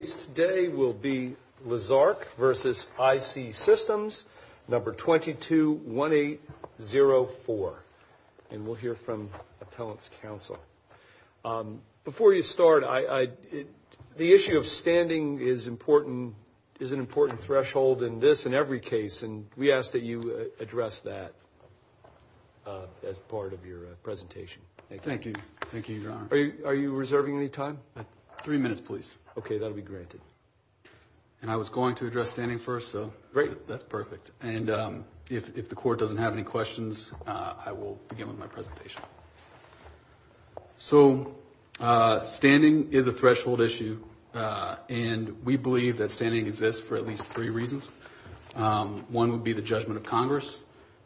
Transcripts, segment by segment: Today will be Lezark v. IC Systems, number 221804, and we'll hear from Appellant's counsel. Before you start, the issue of standing is an important threshold in this and every case, and we ask that you address that as part of your presentation. Thank you. Thank you, Your Honor. Are you reserving any time? Three minutes, please. Okay, that'll be granted. And I was going to address standing first, so that's perfect. And if the Court doesn't have any questions, I will begin with my presentation. So standing is a threshold issue, and we believe that standing exists for at least three reasons. One would be the judgment of Congress.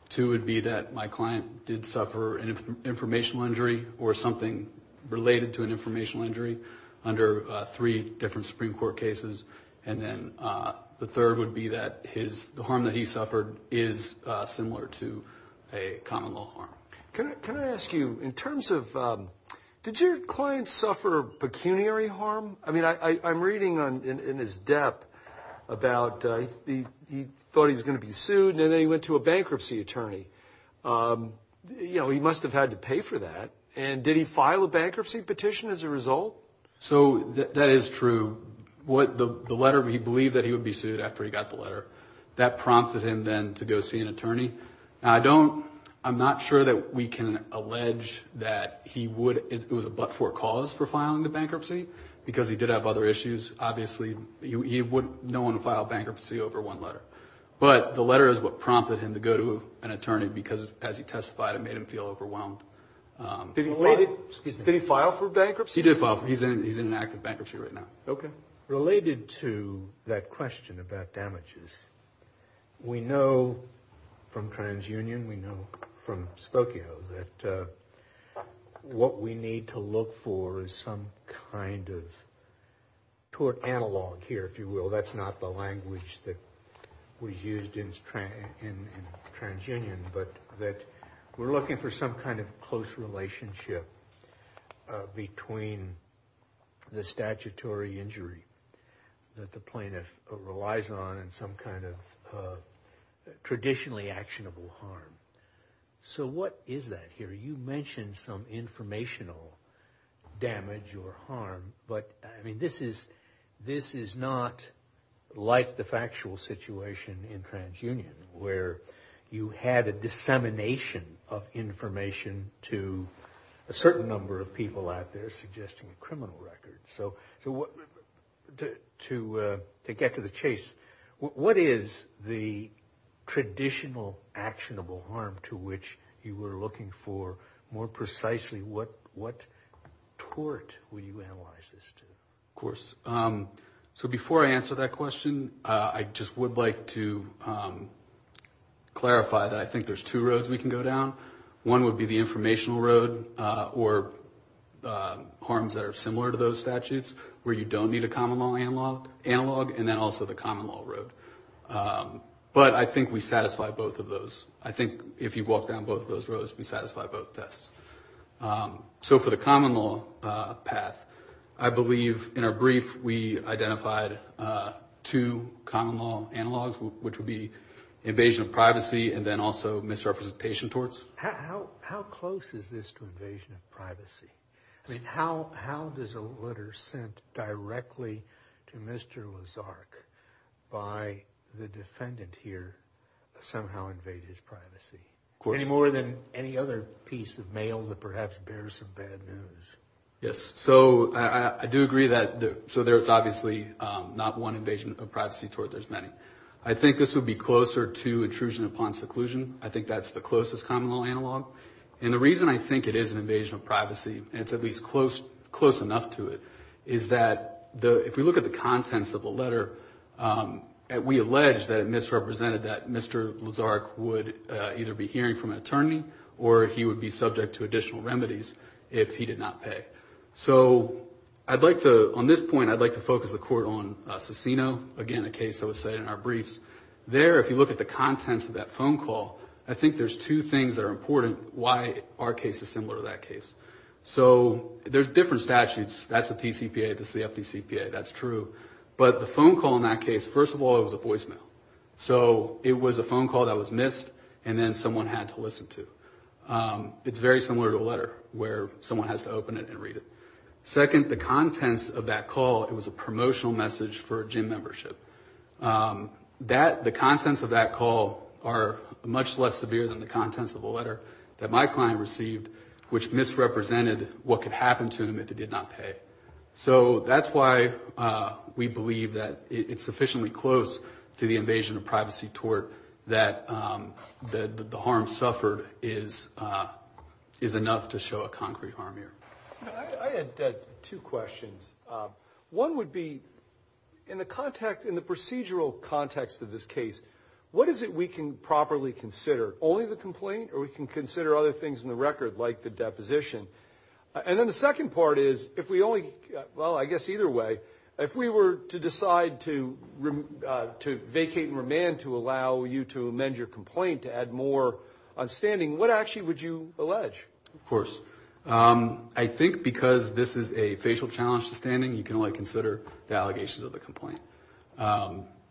Two would be that my client did suffer an informational injury or something related to an informational injury under three different Supreme Court cases. And then the third would be that the harm that he suffered is similar to a common law harm. Can I ask you, in terms of did your client suffer pecuniary harm? I mean, I'm reading in his debt about he thought he was going to be sued, and then he went to a bankruptcy attorney. You know, he must have had to pay for that. And did he file a bankruptcy petition as a result? So that is true. The letter, he believed that he would be sued after he got the letter. That prompted him then to go see an attorney. Now, I don't, I'm not sure that we can allege that he would, it was a but-for cause for filing the bankruptcy because he did have other issues. Obviously, he wouldn't want to file bankruptcy over one letter. But the letter is what prompted him to go to an attorney because, as he testified, it made him feel overwhelmed. Did he file for bankruptcy? He did file for bankruptcy. He's in an active bankruptcy right now. Okay. Related to that question about damages, we know from TransUnion, we know from Spokio, that what we need to look for is some kind of tort analog here, if you will. That's not the language that was used in TransUnion. But that we're looking for some kind of close relationship between the statutory injury that the plaintiff relies on and some kind of traditionally actionable harm. So what is that here? You mentioned some informational damage or harm. But, I mean, this is not like the factual situation in TransUnion where you had a dissemination of information to a certain number of people out there suggesting a criminal record. So to get to the chase, what is the traditional actionable harm to which you were looking for? More precisely, what tort would you analyze this to? Of course. So before I answer that question, I just would like to clarify that I think there's two roads we can go down. One would be the informational road or harms that are similar to those statutes where you don't need a common law analog and then also the common law road. But I think we satisfy both of those. I think if you walk down both of those roads, we satisfy both tests. So for the common law path, I believe in our brief we identified two common law analogs, which would be invasion of privacy and then also misrepresentation torts. How close is this to invasion of privacy? I mean, how does a letter sent directly to Mr. Lazark by the defendant here somehow invade his privacy? Of course. Any more than any other piece of mail that perhaps bears some bad news? Yes. So I do agree that there's obviously not one invasion of privacy tort. There's many. I think this would be closer to intrusion upon seclusion. I think that's the closest common law analog. And the reason I think it is an invasion of privacy, and it's at least close enough to it, is that if we look at the contents of the letter, we allege that it misrepresented that Mr. Lazark would either be hearing from an attorney or he would be subject to additional remedies if he did not pay. So on this point, I'd like to focus the court on Cicino, again, a case that was cited in our briefs. There, if you look at the contents of that phone call, I think there's two things that are important why our case is similar to that case. So there's different statutes. That's a TCPA. This is the FDCPA. That's true. But the phone call in that case, first of all, it was a voicemail. So it was a phone call that was missed and then someone had to listen to. It's very similar to a letter where someone has to open it and read it. Second, the contents of that call, it was a promotional message for a gym membership. The contents of that call are much less severe than the contents of the letter that my client received, which misrepresented what could happen to him if he did not pay. So that's why we believe that it's sufficiently close to the invasion of privacy tort that the harm suffered is enough to show a concrete harm here. I had two questions. One would be in the context, in the procedural context of this case, what is it we can properly consider? Only the complaint or we can consider other things in the record like the deposition? And then the second part is if we only, well, I guess either way, if we were to decide to vacate and remand to allow you to amend your complaint to add more on standing, what actually would you allege? Of course. I think because this is a facial challenge to standing, you can only consider the allegations of the complaint.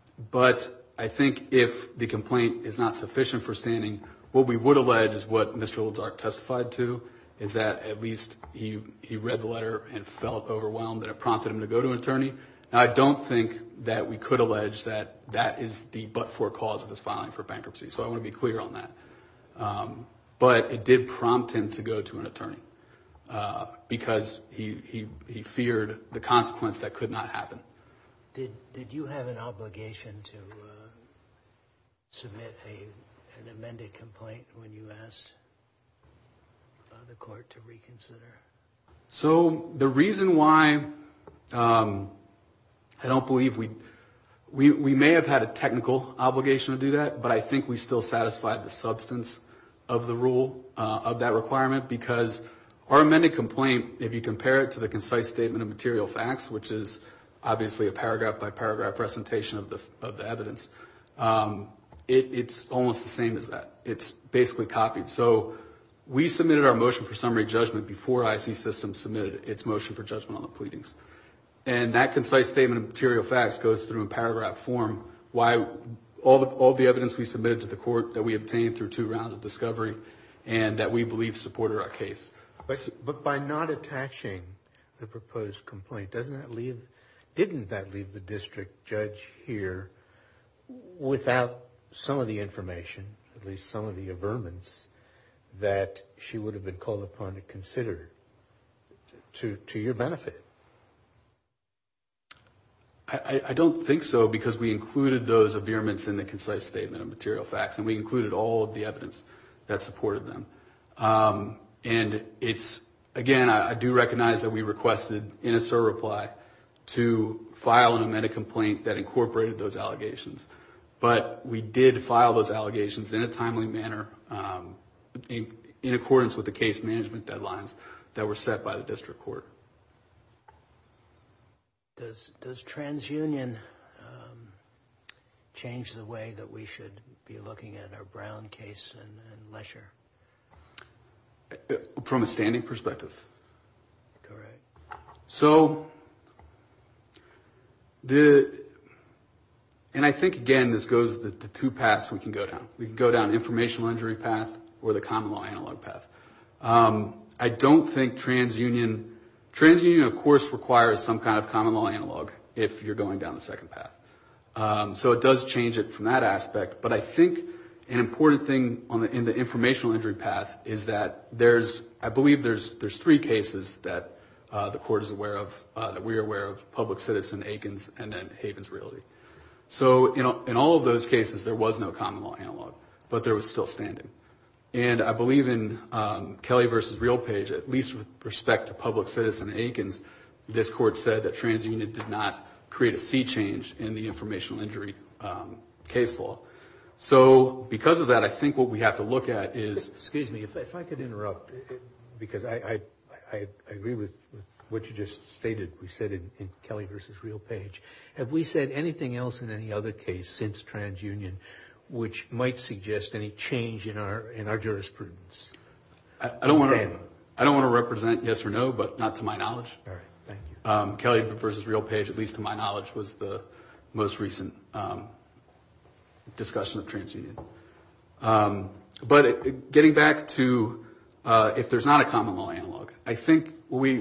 But I think if the complaint is not sufficient for standing, what we would allege is what Mr. Oldsark testified to is that at least he read the letter and felt overwhelmed that it prompted him to go to an attorney. Now, I don't think that we could allege that that is the but-for cause of his filing for bankruptcy. So I want to be clear on that. But it did prompt him to go to an attorney because he feared the consequence that could not happen. Did you have an obligation to submit an amended complaint when you asked the court to reconsider? So the reason why I don't believe we may have had a technical obligation to do that, but I think we still satisfied the substance of the rule, of that requirement, because our amended complaint, if you compare it to the concise statement of material facts, which is obviously a paragraph-by-paragraph presentation of the evidence, it's almost the same as that. It's basically copied. So we submitted our motion for summary judgment before IC Systems submitted its motion for judgment on the pleadings. And that concise statement of material facts goes through a paragraph form. All the evidence we submitted to the court that we obtained through two rounds of discovery and that we believe supported our case. But by not attaching the proposed complaint, didn't that leave the district judge here without some of the information, at least some of the averments that she would have been called upon to consider to your benefit? I don't think so, because we included those averments in the concise statement of material facts, and we included all of the evidence that supported them. And it's, again, I do recognize that we requested, in a SIR reply, to file an amended complaint that incorporated those allegations. But we did file those allegations in a timely manner, in accordance with the case management deadlines that were set by the district court. Does transunion change the way that we should be looking at our Brown case and Lesher? From a standing perspective. Correct. So the, and I think, again, this goes the two paths we can go down. We can go down informational injury path or the common law analog path. I don't think transunion, transunion, of course, requires some kind of common law analog if you're going down the second path. So it does change it from that aspect. But I think an important thing in the informational injury path is that there's, I believe there's three cases that the court is aware of, that we are aware of, public citizen, Aikens, and then Havens Realty. So in all of those cases, there was no common law analog, but there was still standing. And I believe in Kelly v. Realpage, at least with respect to public citizen Aikens, this court said that transunion did not create a sea change in the informational injury case law. So because of that, I think what we have to look at is. Excuse me, if I could interrupt, because I agree with what you just stated, we said in Kelly v. Realpage. Have we said anything else in any other case since transunion, which might suggest any change in our jurisprudence? I don't want to represent yes or no, but not to my knowledge. All right. Thank you. Kelly v. Realpage, at least to my knowledge, was the most recent discussion of transunion. But getting back to if there's not a common law analog, I think what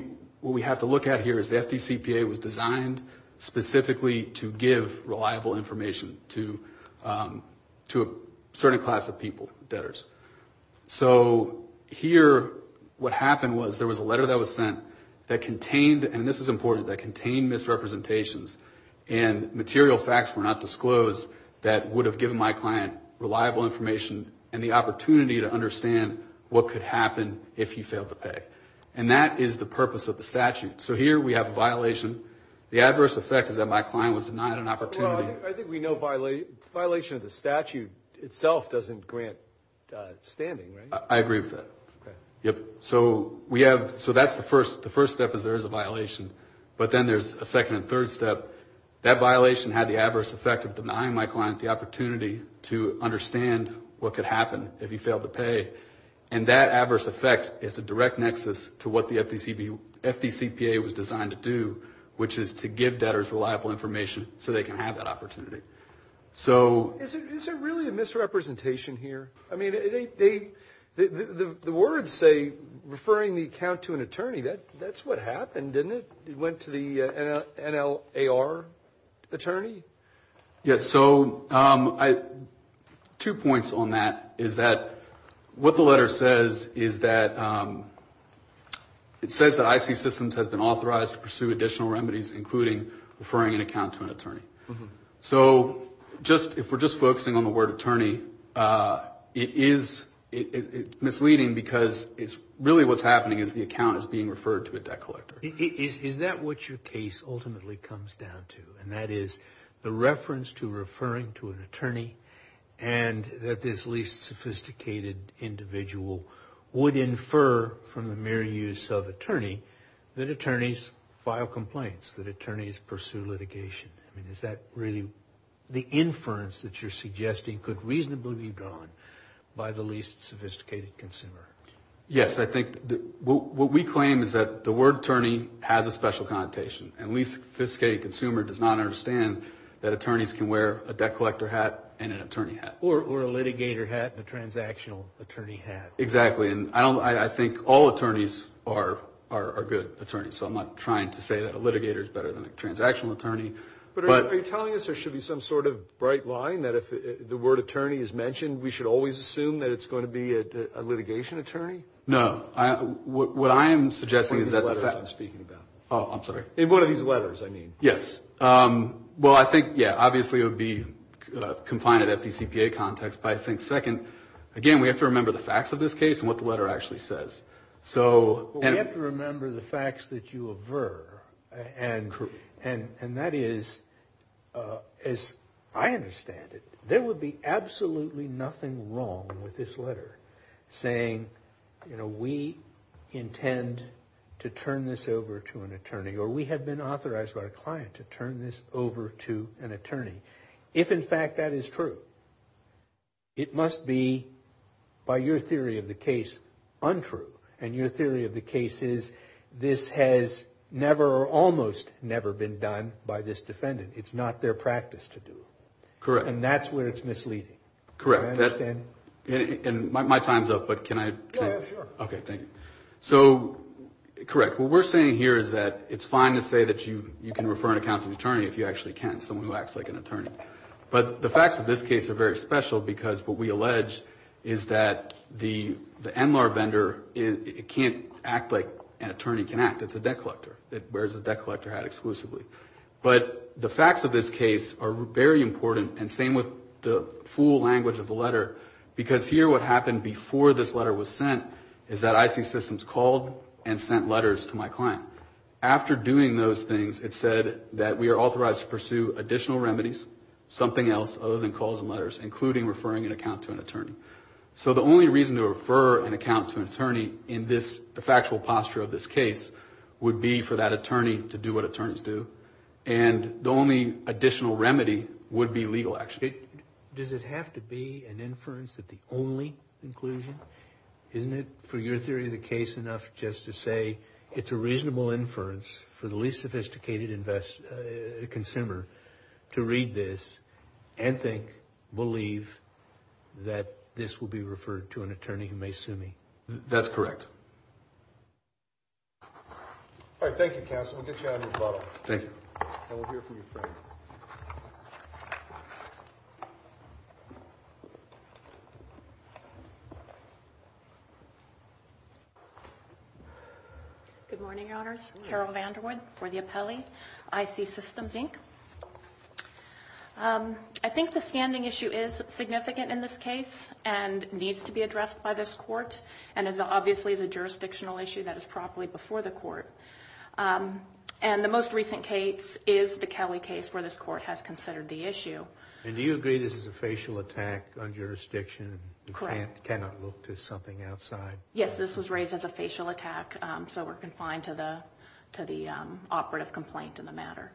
we have to look at here is the FDCPA was designed specifically to give reliable information, to a certain class of people, debtors. So here what happened was there was a letter that was sent that contained, and this is important, that contained misrepresentations, and material facts were not disclosed that would have given my client reliable information and the opportunity to understand what could happen if he failed to pay. And that is the purpose of the statute. So here we have a violation. The adverse effect is that my client was denied an opportunity. Well, I think we know violation of the statute itself doesn't grant standing, right? I agree with that. Okay. Yep. So we have, so that's the first, the first step is there is a violation. But then there's a second and third step. That violation had the adverse effect of denying my client the opportunity to understand what could happen if he failed to pay. And that adverse effect is a direct nexus to what the FDCPA was designed to do, which is to give debtors reliable information so they can have that opportunity. So. Is there really a misrepresentation here? I mean, the words say referring the account to an attorney. That's what happened, didn't it? It went to the NLAR attorney? Yes. So two points on that is that what the letter says is that it says that IC Systems has been authorized to pursue additional remedies, including referring an account to an attorney. So just, if we're just focusing on the word attorney, it is misleading because it's really what's happening is the account is being referred to a debt collector. Is that what your case ultimately comes down to? And that is the reference to referring to an attorney and that this least sophisticated individual would infer from the mere use of attorney that attorneys file complaints, that attorneys pursue litigation. I mean, is that really the inference that you're suggesting could reasonably be drawn by the least sophisticated consumer? Yes. I think what we claim is that the word attorney has a special connotation. A least sophisticated consumer does not understand that attorneys can wear a debt collector hat and an attorney hat. Or a litigator hat and a transactional attorney hat. Exactly. And I think all attorneys are good attorneys. So I'm not trying to say that a litigator is better than a transactional attorney. But are you telling us there should be some sort of bright line that if the word attorney is mentioned, we should always assume that it's going to be a litigation attorney? No. What I am suggesting is that the fact... One of these letters I'm speaking about. Oh, I'm sorry. One of these letters, I mean. Yes. Well, I think, yeah, obviously it would be confined to the FDCPA context, but I think second, again, we have to remember the facts of this case and what the letter actually says. So... Well, we have to remember the facts that you aver and that is, as I understand it, there would be absolutely nothing wrong with this letter saying, you know, we intend to turn this over to an attorney or we have been authorized by a client to turn this over to an attorney. If, in fact, that is true, it must be, by your theory of the case, untrue. And your theory of the case is this has never or almost never been done by this defendant. It's not their practice to do it. Correct. And that's where it's misleading. Correct. Do you understand? And my time's up, but can I... Yeah, sure. Okay, thank you. So, correct. What we're saying here is that it's fine to say that you can refer an accountant attorney if you actually can, someone who acts like an attorney. But the facts of this case are very special because what we allege is that the NLAR vendor, it can't act like an attorney can act. It's a debt collector. It wears a debt collector hat exclusively. But the facts of this case are very important and same with the full language of the letter because here what happened before this letter was sent is that IC Systems called and sent letters to my client. After doing those things, it said that we are authorized to pursue additional remedies, something else other than calls and letters, including referring an accountant to an attorney. So the only reason to refer an accountant to an attorney in this factual posture of this case would be for that attorney to do what attorneys do. And the only additional remedy would be legal action. Does it have to be an inference that the only inclusion? Isn't it, for your theory of the case, enough just to say it's a reasonable inference for the least sophisticated consumer to read this and think, believe that this will be referred to an attorney who may sue me? That's correct. All right, thank you, counsel. We'll get you out of your bottle. Thank you. And we'll hear from your friend. Good morning, Your Honors. Carol Vanderwood for the appellee, IC Systems, Inc. I think the standing issue is significant in this case and needs to be addressed by this court and obviously is a jurisdictional issue that is properly before the court. And the most recent case is the Kelly case where this court has considered the issue. And do you agree this is a facial attack on jurisdiction? Correct. I cannot look to something outside. Yes, this was raised as a facial attack, so we're confined to the operative complaint in the matter.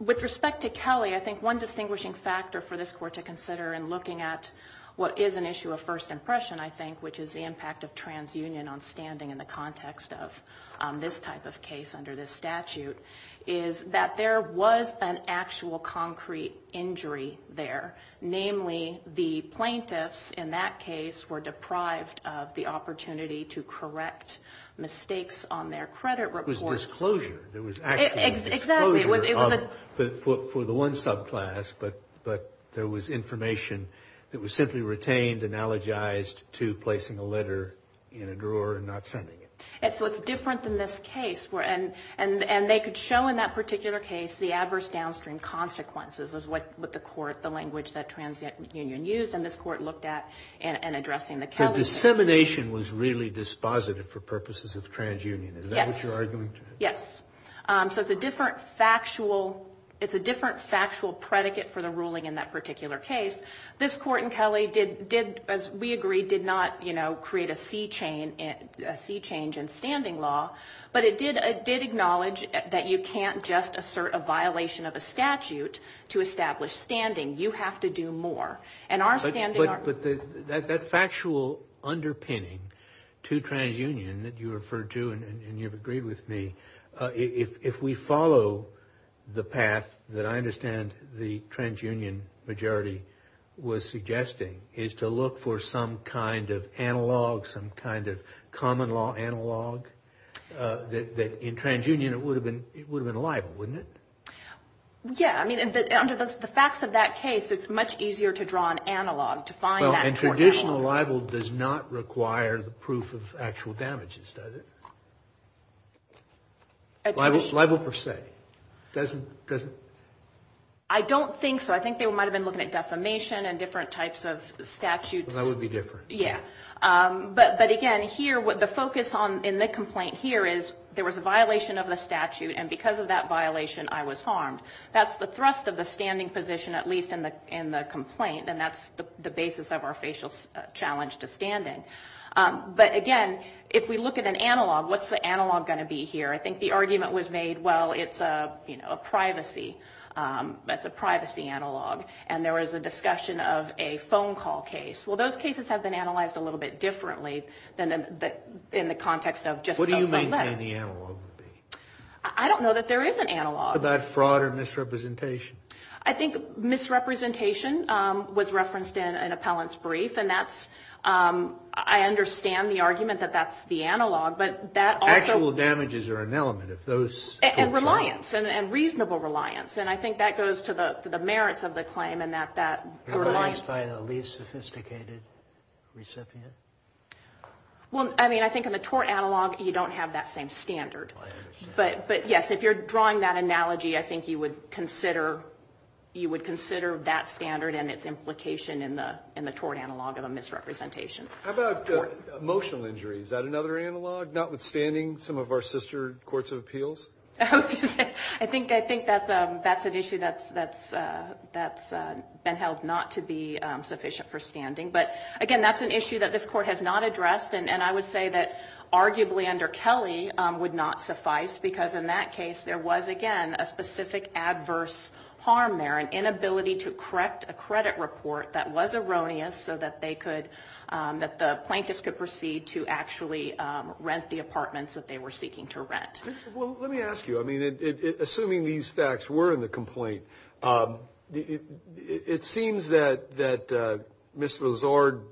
With respect to Kelly, I think one distinguishing factor for this court to consider in looking at what is an issue of first impression, I think, which is the impact of transunion on standing in the context of this type of case under this statute, is that there was an actual concrete injury there. Namely, the plaintiffs in that case were deprived of the opportunity to correct mistakes on their credit reports. It was disclosure. There was actual disclosure for the one subclass, but there was information that was simply retained and analogized to placing a letter in a drawer and not sending it. So it's different than this case. And they could show in that particular case the adverse downstream consequences, is what the court, the language that transunion used, and this court looked at in addressing the Kelly case. So dissemination was really dispositive for purposes of transunion. Is that what you're arguing? Yes. So it's a different factual predicate for the ruling in that particular case. This court in Kelly did, as we agreed, did not create a sea change in standing law, but it did acknowledge that you can't just assert a violation of a statute to establish standing. You have to do more. But that factual underpinning to transunion that you referred to and you've agreed with me, if we follow the path that I understand the transunion majority was suggesting, is to look for some kind of analog, some kind of common law analog, that in transunion it would have been liable, wouldn't it? Yeah. I mean, under the facts of that case, it's much easier to draw an analog to find that. And traditional libel does not require the proof of actual damages, does it? Libel per se. Doesn't? I don't think so. I think they might have been looking at defamation and different types of statutes. That would be different. Yeah. But, again, here, the focus in the complaint here is there was a violation of the statute, and because of that violation, I was harmed. That's the thrust of the standing position, at least in the complaint, and that's the basis of our facial challenge to standing. But, again, if we look at an analog, what's the analog going to be here? I think the argument was made, well, it's a privacy analog, and there was a discussion of a phone call case. Well, those cases have been analyzed a little bit differently than in the context of just a letter. What do you maintain the analog would be? I don't know that there is an analog. What about fraud or misrepresentation? I think misrepresentation was referenced in an appellant's brief, and that's – I understand the argument that that's the analog, but that also – Actual damages are an element. If those – And reliance, and reasonable reliance. And I think that goes to the merits of the claim and that reliance – Reliance by the least sophisticated recipient? Well, I mean, I think in the tort analog, you don't have that same standard. I understand. But, yes, if you're drawing that analogy, I think you would consider that standard and its implication in the tort analog of a misrepresentation. How about emotional injury? Is that another analog, notwithstanding some of our sister courts of appeals? I think that's an issue that's been held not to be sufficient for standing. But, again, that's an issue that this Court has not addressed, and I would say that arguably under Kelly would not suffice, because in that case there was, again, a specific adverse harm there, an inability to correct a credit report that was erroneous so that they could – that the plaintiffs could proceed to actually rent the apartments that they were seeking to rent. Well, let me ask you. I mean, assuming these facts were in the complaint, it seems that Mr. Lazard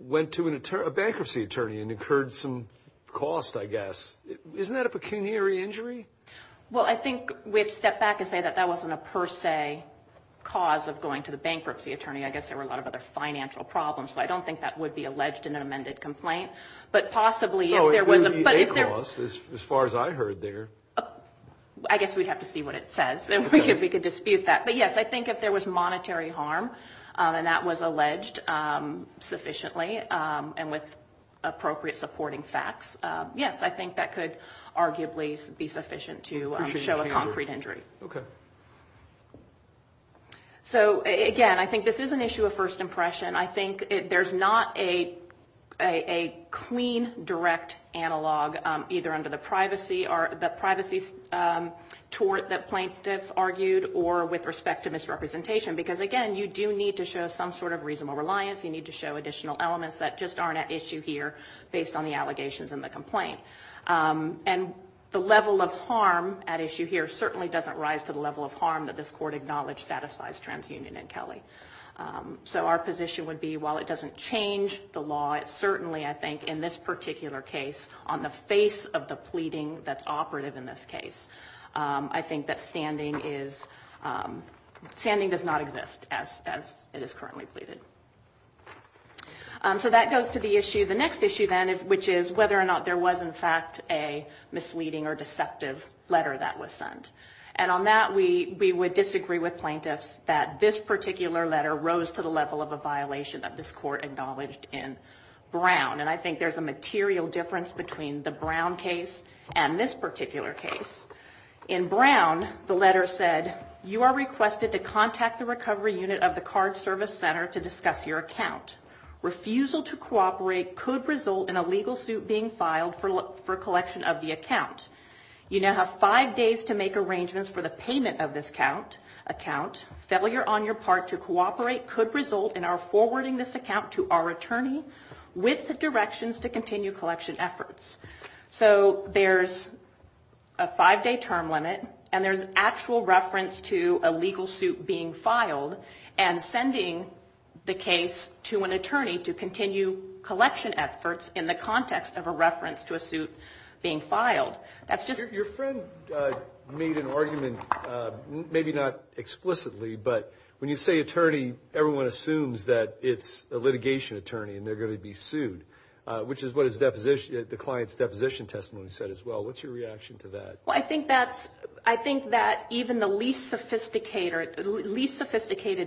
went to a bankruptcy attorney and incurred some cost, I guess. Isn't that a pecuniary injury? Well, I think we have to step back and say that that wasn't a per se cause of going to the bankruptcy attorney. I guess there were a lot of other financial problems, so I don't think that would be alleged in an amended complaint. But possibly if there was a – No, it would be a cost as far as I heard there. I guess we'd have to see what it says. We could dispute that. But, yes, I think if there was monetary harm and that was alleged sufficiently and with appropriate supporting facts, yes, I think that could arguably be sufficient to show a concrete injury. Okay. So, again, I think this is an issue of first impression. I think there's not a clean, direct analog either under the privacy tort that Plaintiff argued or with respect to misrepresentation. Because, again, you do need to show some sort of reasonable reliance. You need to show additional elements that just aren't at issue here based on the allegations in the complaint. And the level of harm at issue here certainly doesn't rise to the level of harm that this Court acknowledged satisfies TransUnion and Kelly. So our position would be while it doesn't change the law, it certainly, I think, in this particular case, on the face of the pleading that's operative in this case, I think that standing does not exist as it is currently pleaded. So that goes to the issue. The next issue, then, which is whether or not there was, in fact, a misleading or deceptive letter that was sent. And on that, we would disagree with Plaintiffs that this particular letter rose to the level of a violation that this Court acknowledged in Brown. And I think there's a material difference between the Brown case and this particular case. In Brown, the letter said, you are requested to contact the recovery unit of the card service center to discuss your account. Refusal to cooperate could result in a legal suit being filed for collection of the account. You now have five days to make arrangements for the payment of this account. Failure on your part to cooperate could result in our forwarding this account to our attorney with the directions to continue collection efforts. So there's a five-day term limit, and there's actual reference to a legal suit being filed and sending the case to an attorney to continue collection efforts in the context of a reference to a suit being filed. Your friend made an argument, maybe not explicitly, but when you say attorney, everyone assumes that it's a litigation attorney and they're going to be sued, which is what the client's deposition testimony said as well. What's your reaction to that? Well, I think that even the least sophisticated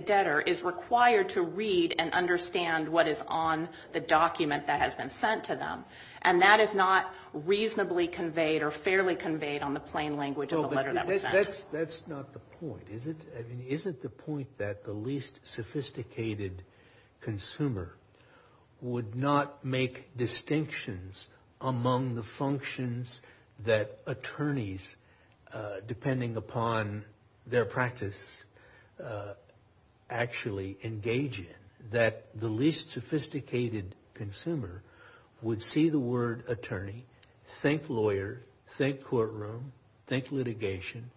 debtor is required to read and understand what is on the document that has been sent to them. And that is not reasonably conveyed or fairly conveyed on the plain language of the letter that was sent. That's not the point, is it? I mean, isn't the point that the least sophisticated consumer would not make distinctions among the functions that attorneys, depending upon their practice, actually engage in? That the least sophisticated consumer would see the word attorney, think lawyer, think courtroom, think litigation,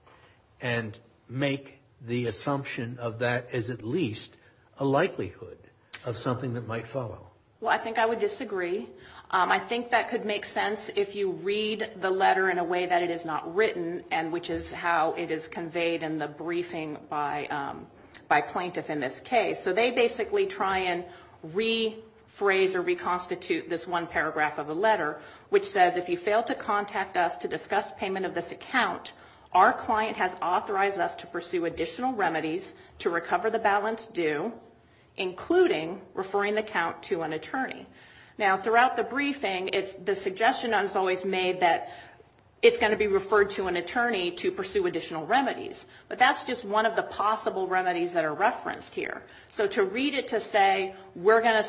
and make the assumption of that as at least a likelihood of something that might follow. Well, I think I would disagree. I think that could make sense if you read the letter in a way that it is not written, which is how it is conveyed in the briefing by plaintiff in this case. So they basically try and rephrase or reconstitute this one paragraph of the letter, which says if you fail to contact us to discuss payment of this account, our client has authorized us to pursue additional remedies to recover the balance due, including referring the account to an attorney. Now, throughout the briefing, the suggestion is always made that it's going to be referred to an attorney to pursue additional remedies. But that's just one of the possible remedies that are referenced here. So to read it to say we're going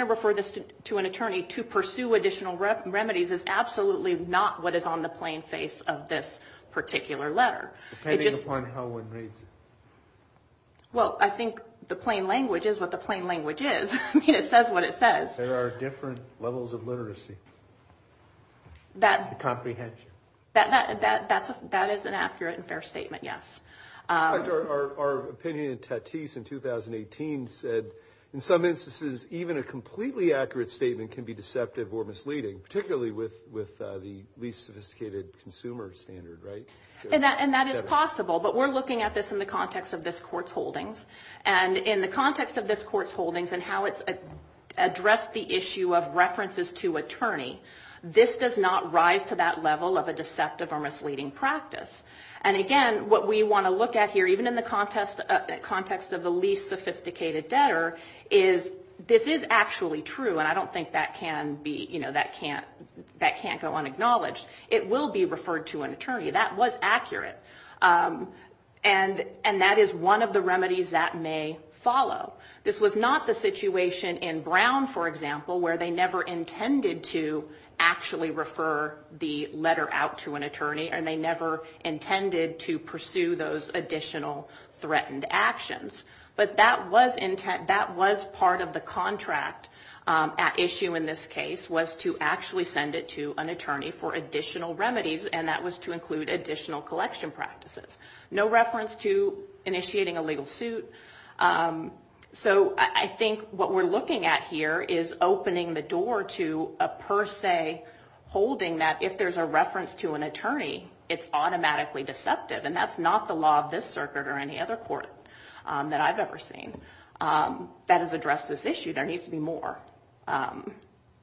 to refer this to an attorney to pursue additional remedies is absolutely not what is on the plain face of this particular letter. Depending upon how one reads it. Well, I think the plain language is what the plain language is. I mean, it says what it says. There are different levels of literacy. Comprehension. That is an accurate and fair statement, yes. Our opinion in 2018 said in some instances, even a completely accurate statement can be deceptive or misleading, particularly with the least sophisticated consumer standard, right? And that is possible. But we're looking at this in the context of this court's holdings. And in the context of this court's holdings and how it's addressed the issue of references to attorney, this does not rise to that level of a deceptive or misleading practice. And, again, what we want to look at here, even in the context of the least sophisticated debtor, is this is actually true. And I don't think that can't go unacknowledged. It will be referred to an attorney. That was accurate. And that is one of the remedies that may follow. This was not the situation in Brown, for example, where they never intended to actually refer the letter out to an attorney and they never intended to pursue those additional threatened actions. But that was part of the contract at issue in this case, was to actually send it to an attorney for additional remedies, and that was to include additional collection practices. No reference to initiating a legal suit. So I think what we're looking at here is opening the door to a per se holding that if there's a reference to an attorney, it's automatically deceptive. And that's not the law of this circuit or any other court that I've ever seen that has addressed this issue. There needs to be more. I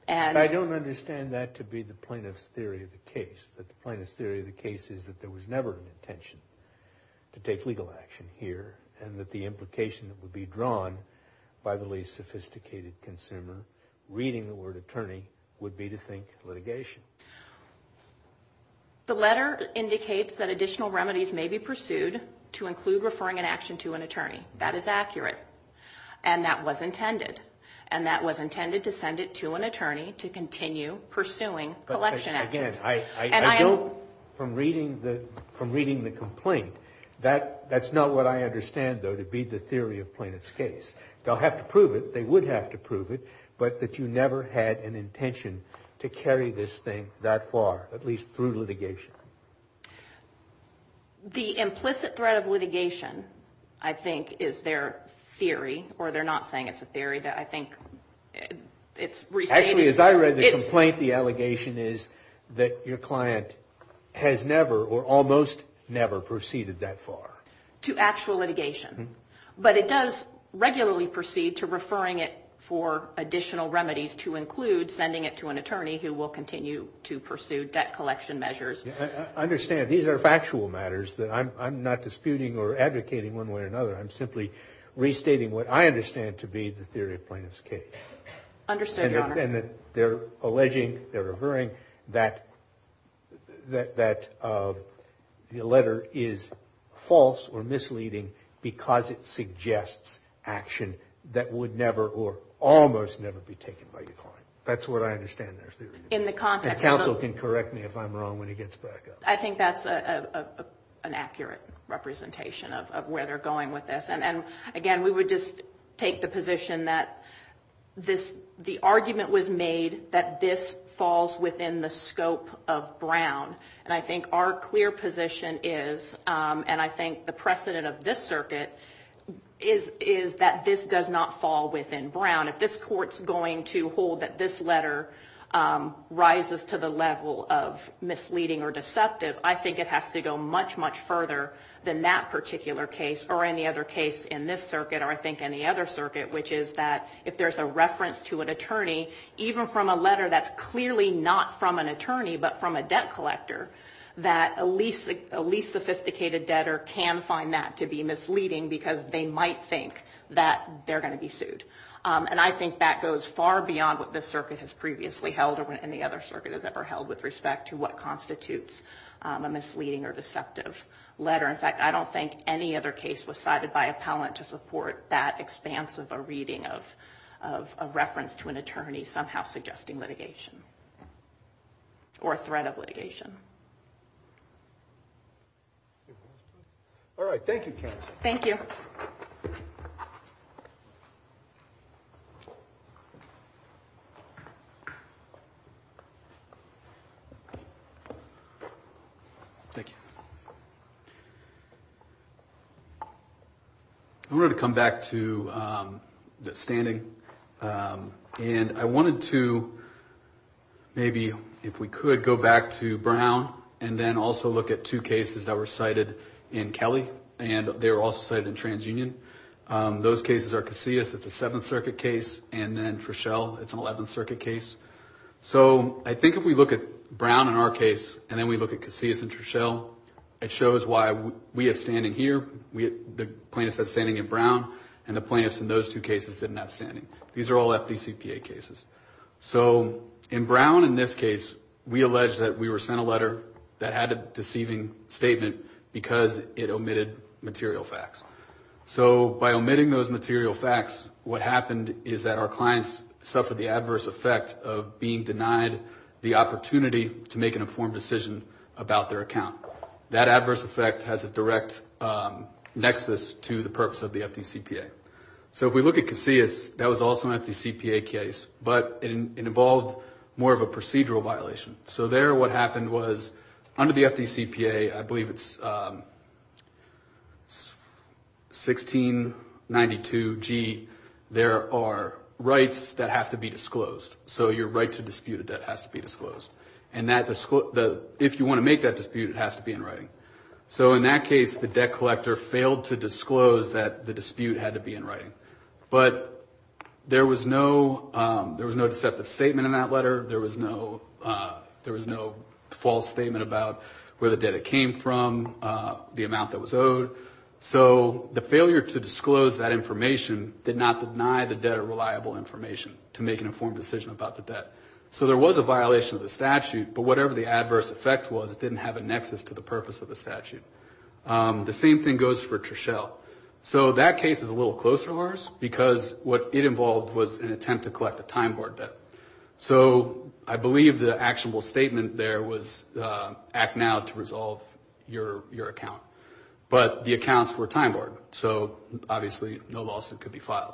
don't understand that to be the plaintiff's theory of the case, that the plaintiff's theory of the case is that there was never an intention to take legal action here and that the implication that would be drawn by the least sophisticated consumer reading the word attorney would be to think litigation. The letter indicates that additional remedies may be pursued to include referring an action to an attorney. That is accurate. And that was intended. And that was intended to send it to an attorney to continue pursuing collection actions. Again, I don't, from reading the complaint, that's not what I understand, though, to be the theory of plaintiff's case. They'll have to prove it. They would have to prove it, but that you never had an intention to carry this thing that far, at least through litigation. The implicit threat of litigation, I think, is their theory, or they're not saying it's a theory. I think it's restated. Actually, as I read the complaint, the allegation is that your client has never or almost never proceeded that far. To actual litigation. But it does regularly proceed to referring it for additional remedies to include sending it to an attorney who will continue to pursue debt collection measures. I understand. These are factual matters that I'm not disputing or advocating one way or another. I'm simply restating what I understand to be the theory of plaintiff's case. Understood, Your Honor. And they're alleging, they're referring, that the letter is false or misleading because it suggests action that would never or almost never be taken by your client. That's what I understand their theory is. In the context of the- And counsel can correct me if I'm wrong when he gets back up. I think that's an accurate representation of where they're going with this. And, again, we would just take the position that the argument was made that this falls within the scope of Brown. And I think our clear position is, and I think the precedent of this circuit, is that this does not fall within Brown. If this court's going to hold that this letter rises to the level of misleading or deceptive, I think it has to go much, much further than that particular case or any other case in this circuit, or I think any other circuit, which is that if there's a reference to an attorney, even from a letter that's clearly not from an attorney but from a debt collector, that a least sophisticated debtor can find that to be misleading because they might think that they're going to be sued. And I think that goes far beyond what this circuit has previously held or what any other circuit has ever held with respect to what constitutes a misleading or deceptive letter. In fact, I don't think any other case was cited by appellant to support that expanse of a reading of a reference to an attorney somehow suggesting litigation or a threat of litigation. All right. Thank you, Candice. Thank you. Thank you. I'm going to come back to the standing. And I wanted to maybe, if we could, go back to Brown and then also look at two cases that were cited in Kelly and they were also cited in TransUnion. Those cases are Casillas. It's a Seventh Circuit case. And then Treshelle, it's an Eleventh Circuit case. So I think if we look at Brown in our case and then we look at Casillas and Treshelle, it shows why we have standing here, the plaintiffs have standing in Brown, and the plaintiffs in those two cases didn't have standing. These are all FDCPA cases. So in Brown in this case, we allege that we were sent a letter that had a deceiving statement because it omitted material facts. So by omitting those material facts, what happened is that our clients suffered the adverse effect of being denied the opportunity to make an informed decision about their account. That adverse effect has a direct nexus to the purpose of the FDCPA. So if we look at Casillas, that was also an FDCPA case, but it involved more of a procedural violation. So there what happened was under the FDCPA, I believe it's 1692G, there are rights that have to be disclosed. So your right to dispute a debt has to be disclosed. And if you want to make that dispute, it has to be in writing. So in that case, the debt collector failed to disclose that the dispute had to be in writing. But there was no deceptive statement in that letter. There was no false statement about where the debt had came from, the amount that was owed. So the failure to disclose that information did not deny the debt a reliable information to make an informed decision about the debt. So there was a violation of the statute, but whatever the adverse effect was, it didn't have a nexus to the purpose of the statute. The same thing goes for Treshelle. So that case is a little closer to ours because what it involved was an attempt to collect a time board debt. So I believe the actionable statement there was act now to resolve your account. But the accounts were time board, so obviously no lawsuit could be filed.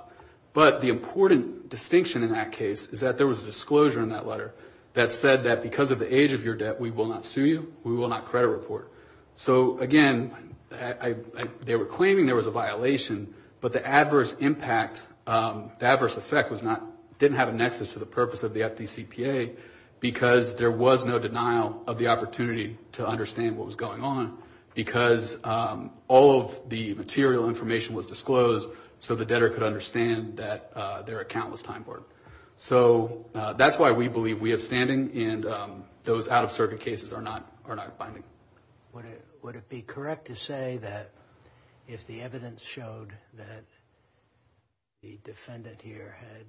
But the important distinction in that case is that there was a disclosure in that letter that said that because of the age of your debt, we will not sue you, we will not credit report. So, again, they were claiming there was a violation, but the adverse impact, the adverse effect, didn't have a nexus to the purpose of the FDCPA because there was no denial of the opportunity to understand what was going on because all of the material information was disclosed so the debtor could understand that their account was time board. So that's why we believe we have standing and those out-of-circuit cases are not binding. Would it be correct to say that if the evidence showed that the defendant here had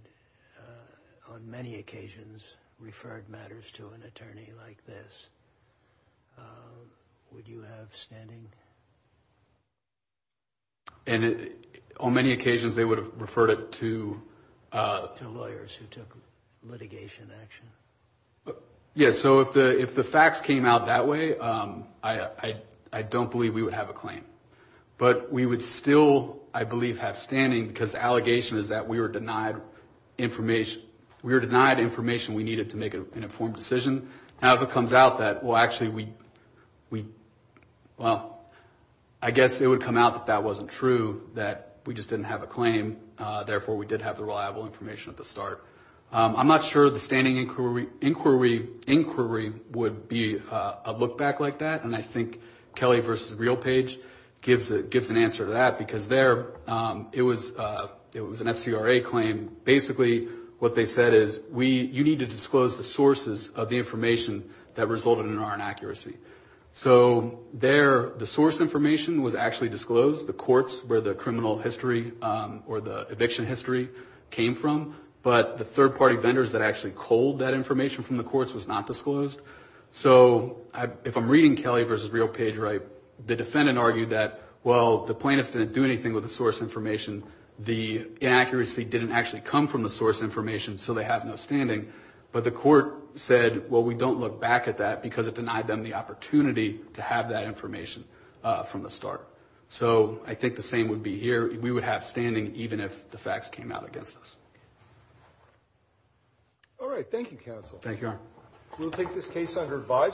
on many occasions referred matters to an attorney like this, would you have standing? And on many occasions they would have referred it to... To lawyers who took litigation action. Yeah, so if the facts came out that way, I don't believe we would have a claim. But we would still, I believe, have standing because the allegation is that we were denied information. We were denied information we needed to make an informed decision. Now if it comes out that, well, actually we... Well, I guess it would come out that that wasn't true, that we just didn't have a claim, therefore we did have the reliable information at the start. I'm not sure the standing inquiry would be a look back like that and I think Kelly v. Realpage gives an answer to that because there it was an FCRA claim. Basically what they said is you need to disclose the sources of the information that resulted in our inaccuracy. So there the source information was actually disclosed, the courts where the criminal history or the eviction history came from, but the third-party vendors that actually culled that information from the courts was not disclosed. So if I'm reading Kelly v. Realpage right, the defendant argued that, well, the plaintiffs didn't do anything with the source information, the inaccuracy didn't actually come from the source information, so they have no standing. But the court said, well, we don't look back at that because it denied them the opportunity to have that information from the start. So I think the same would be here. We would have standing even if the facts came out against us. All right. Thank you, counsel. Thank you, Your Honor.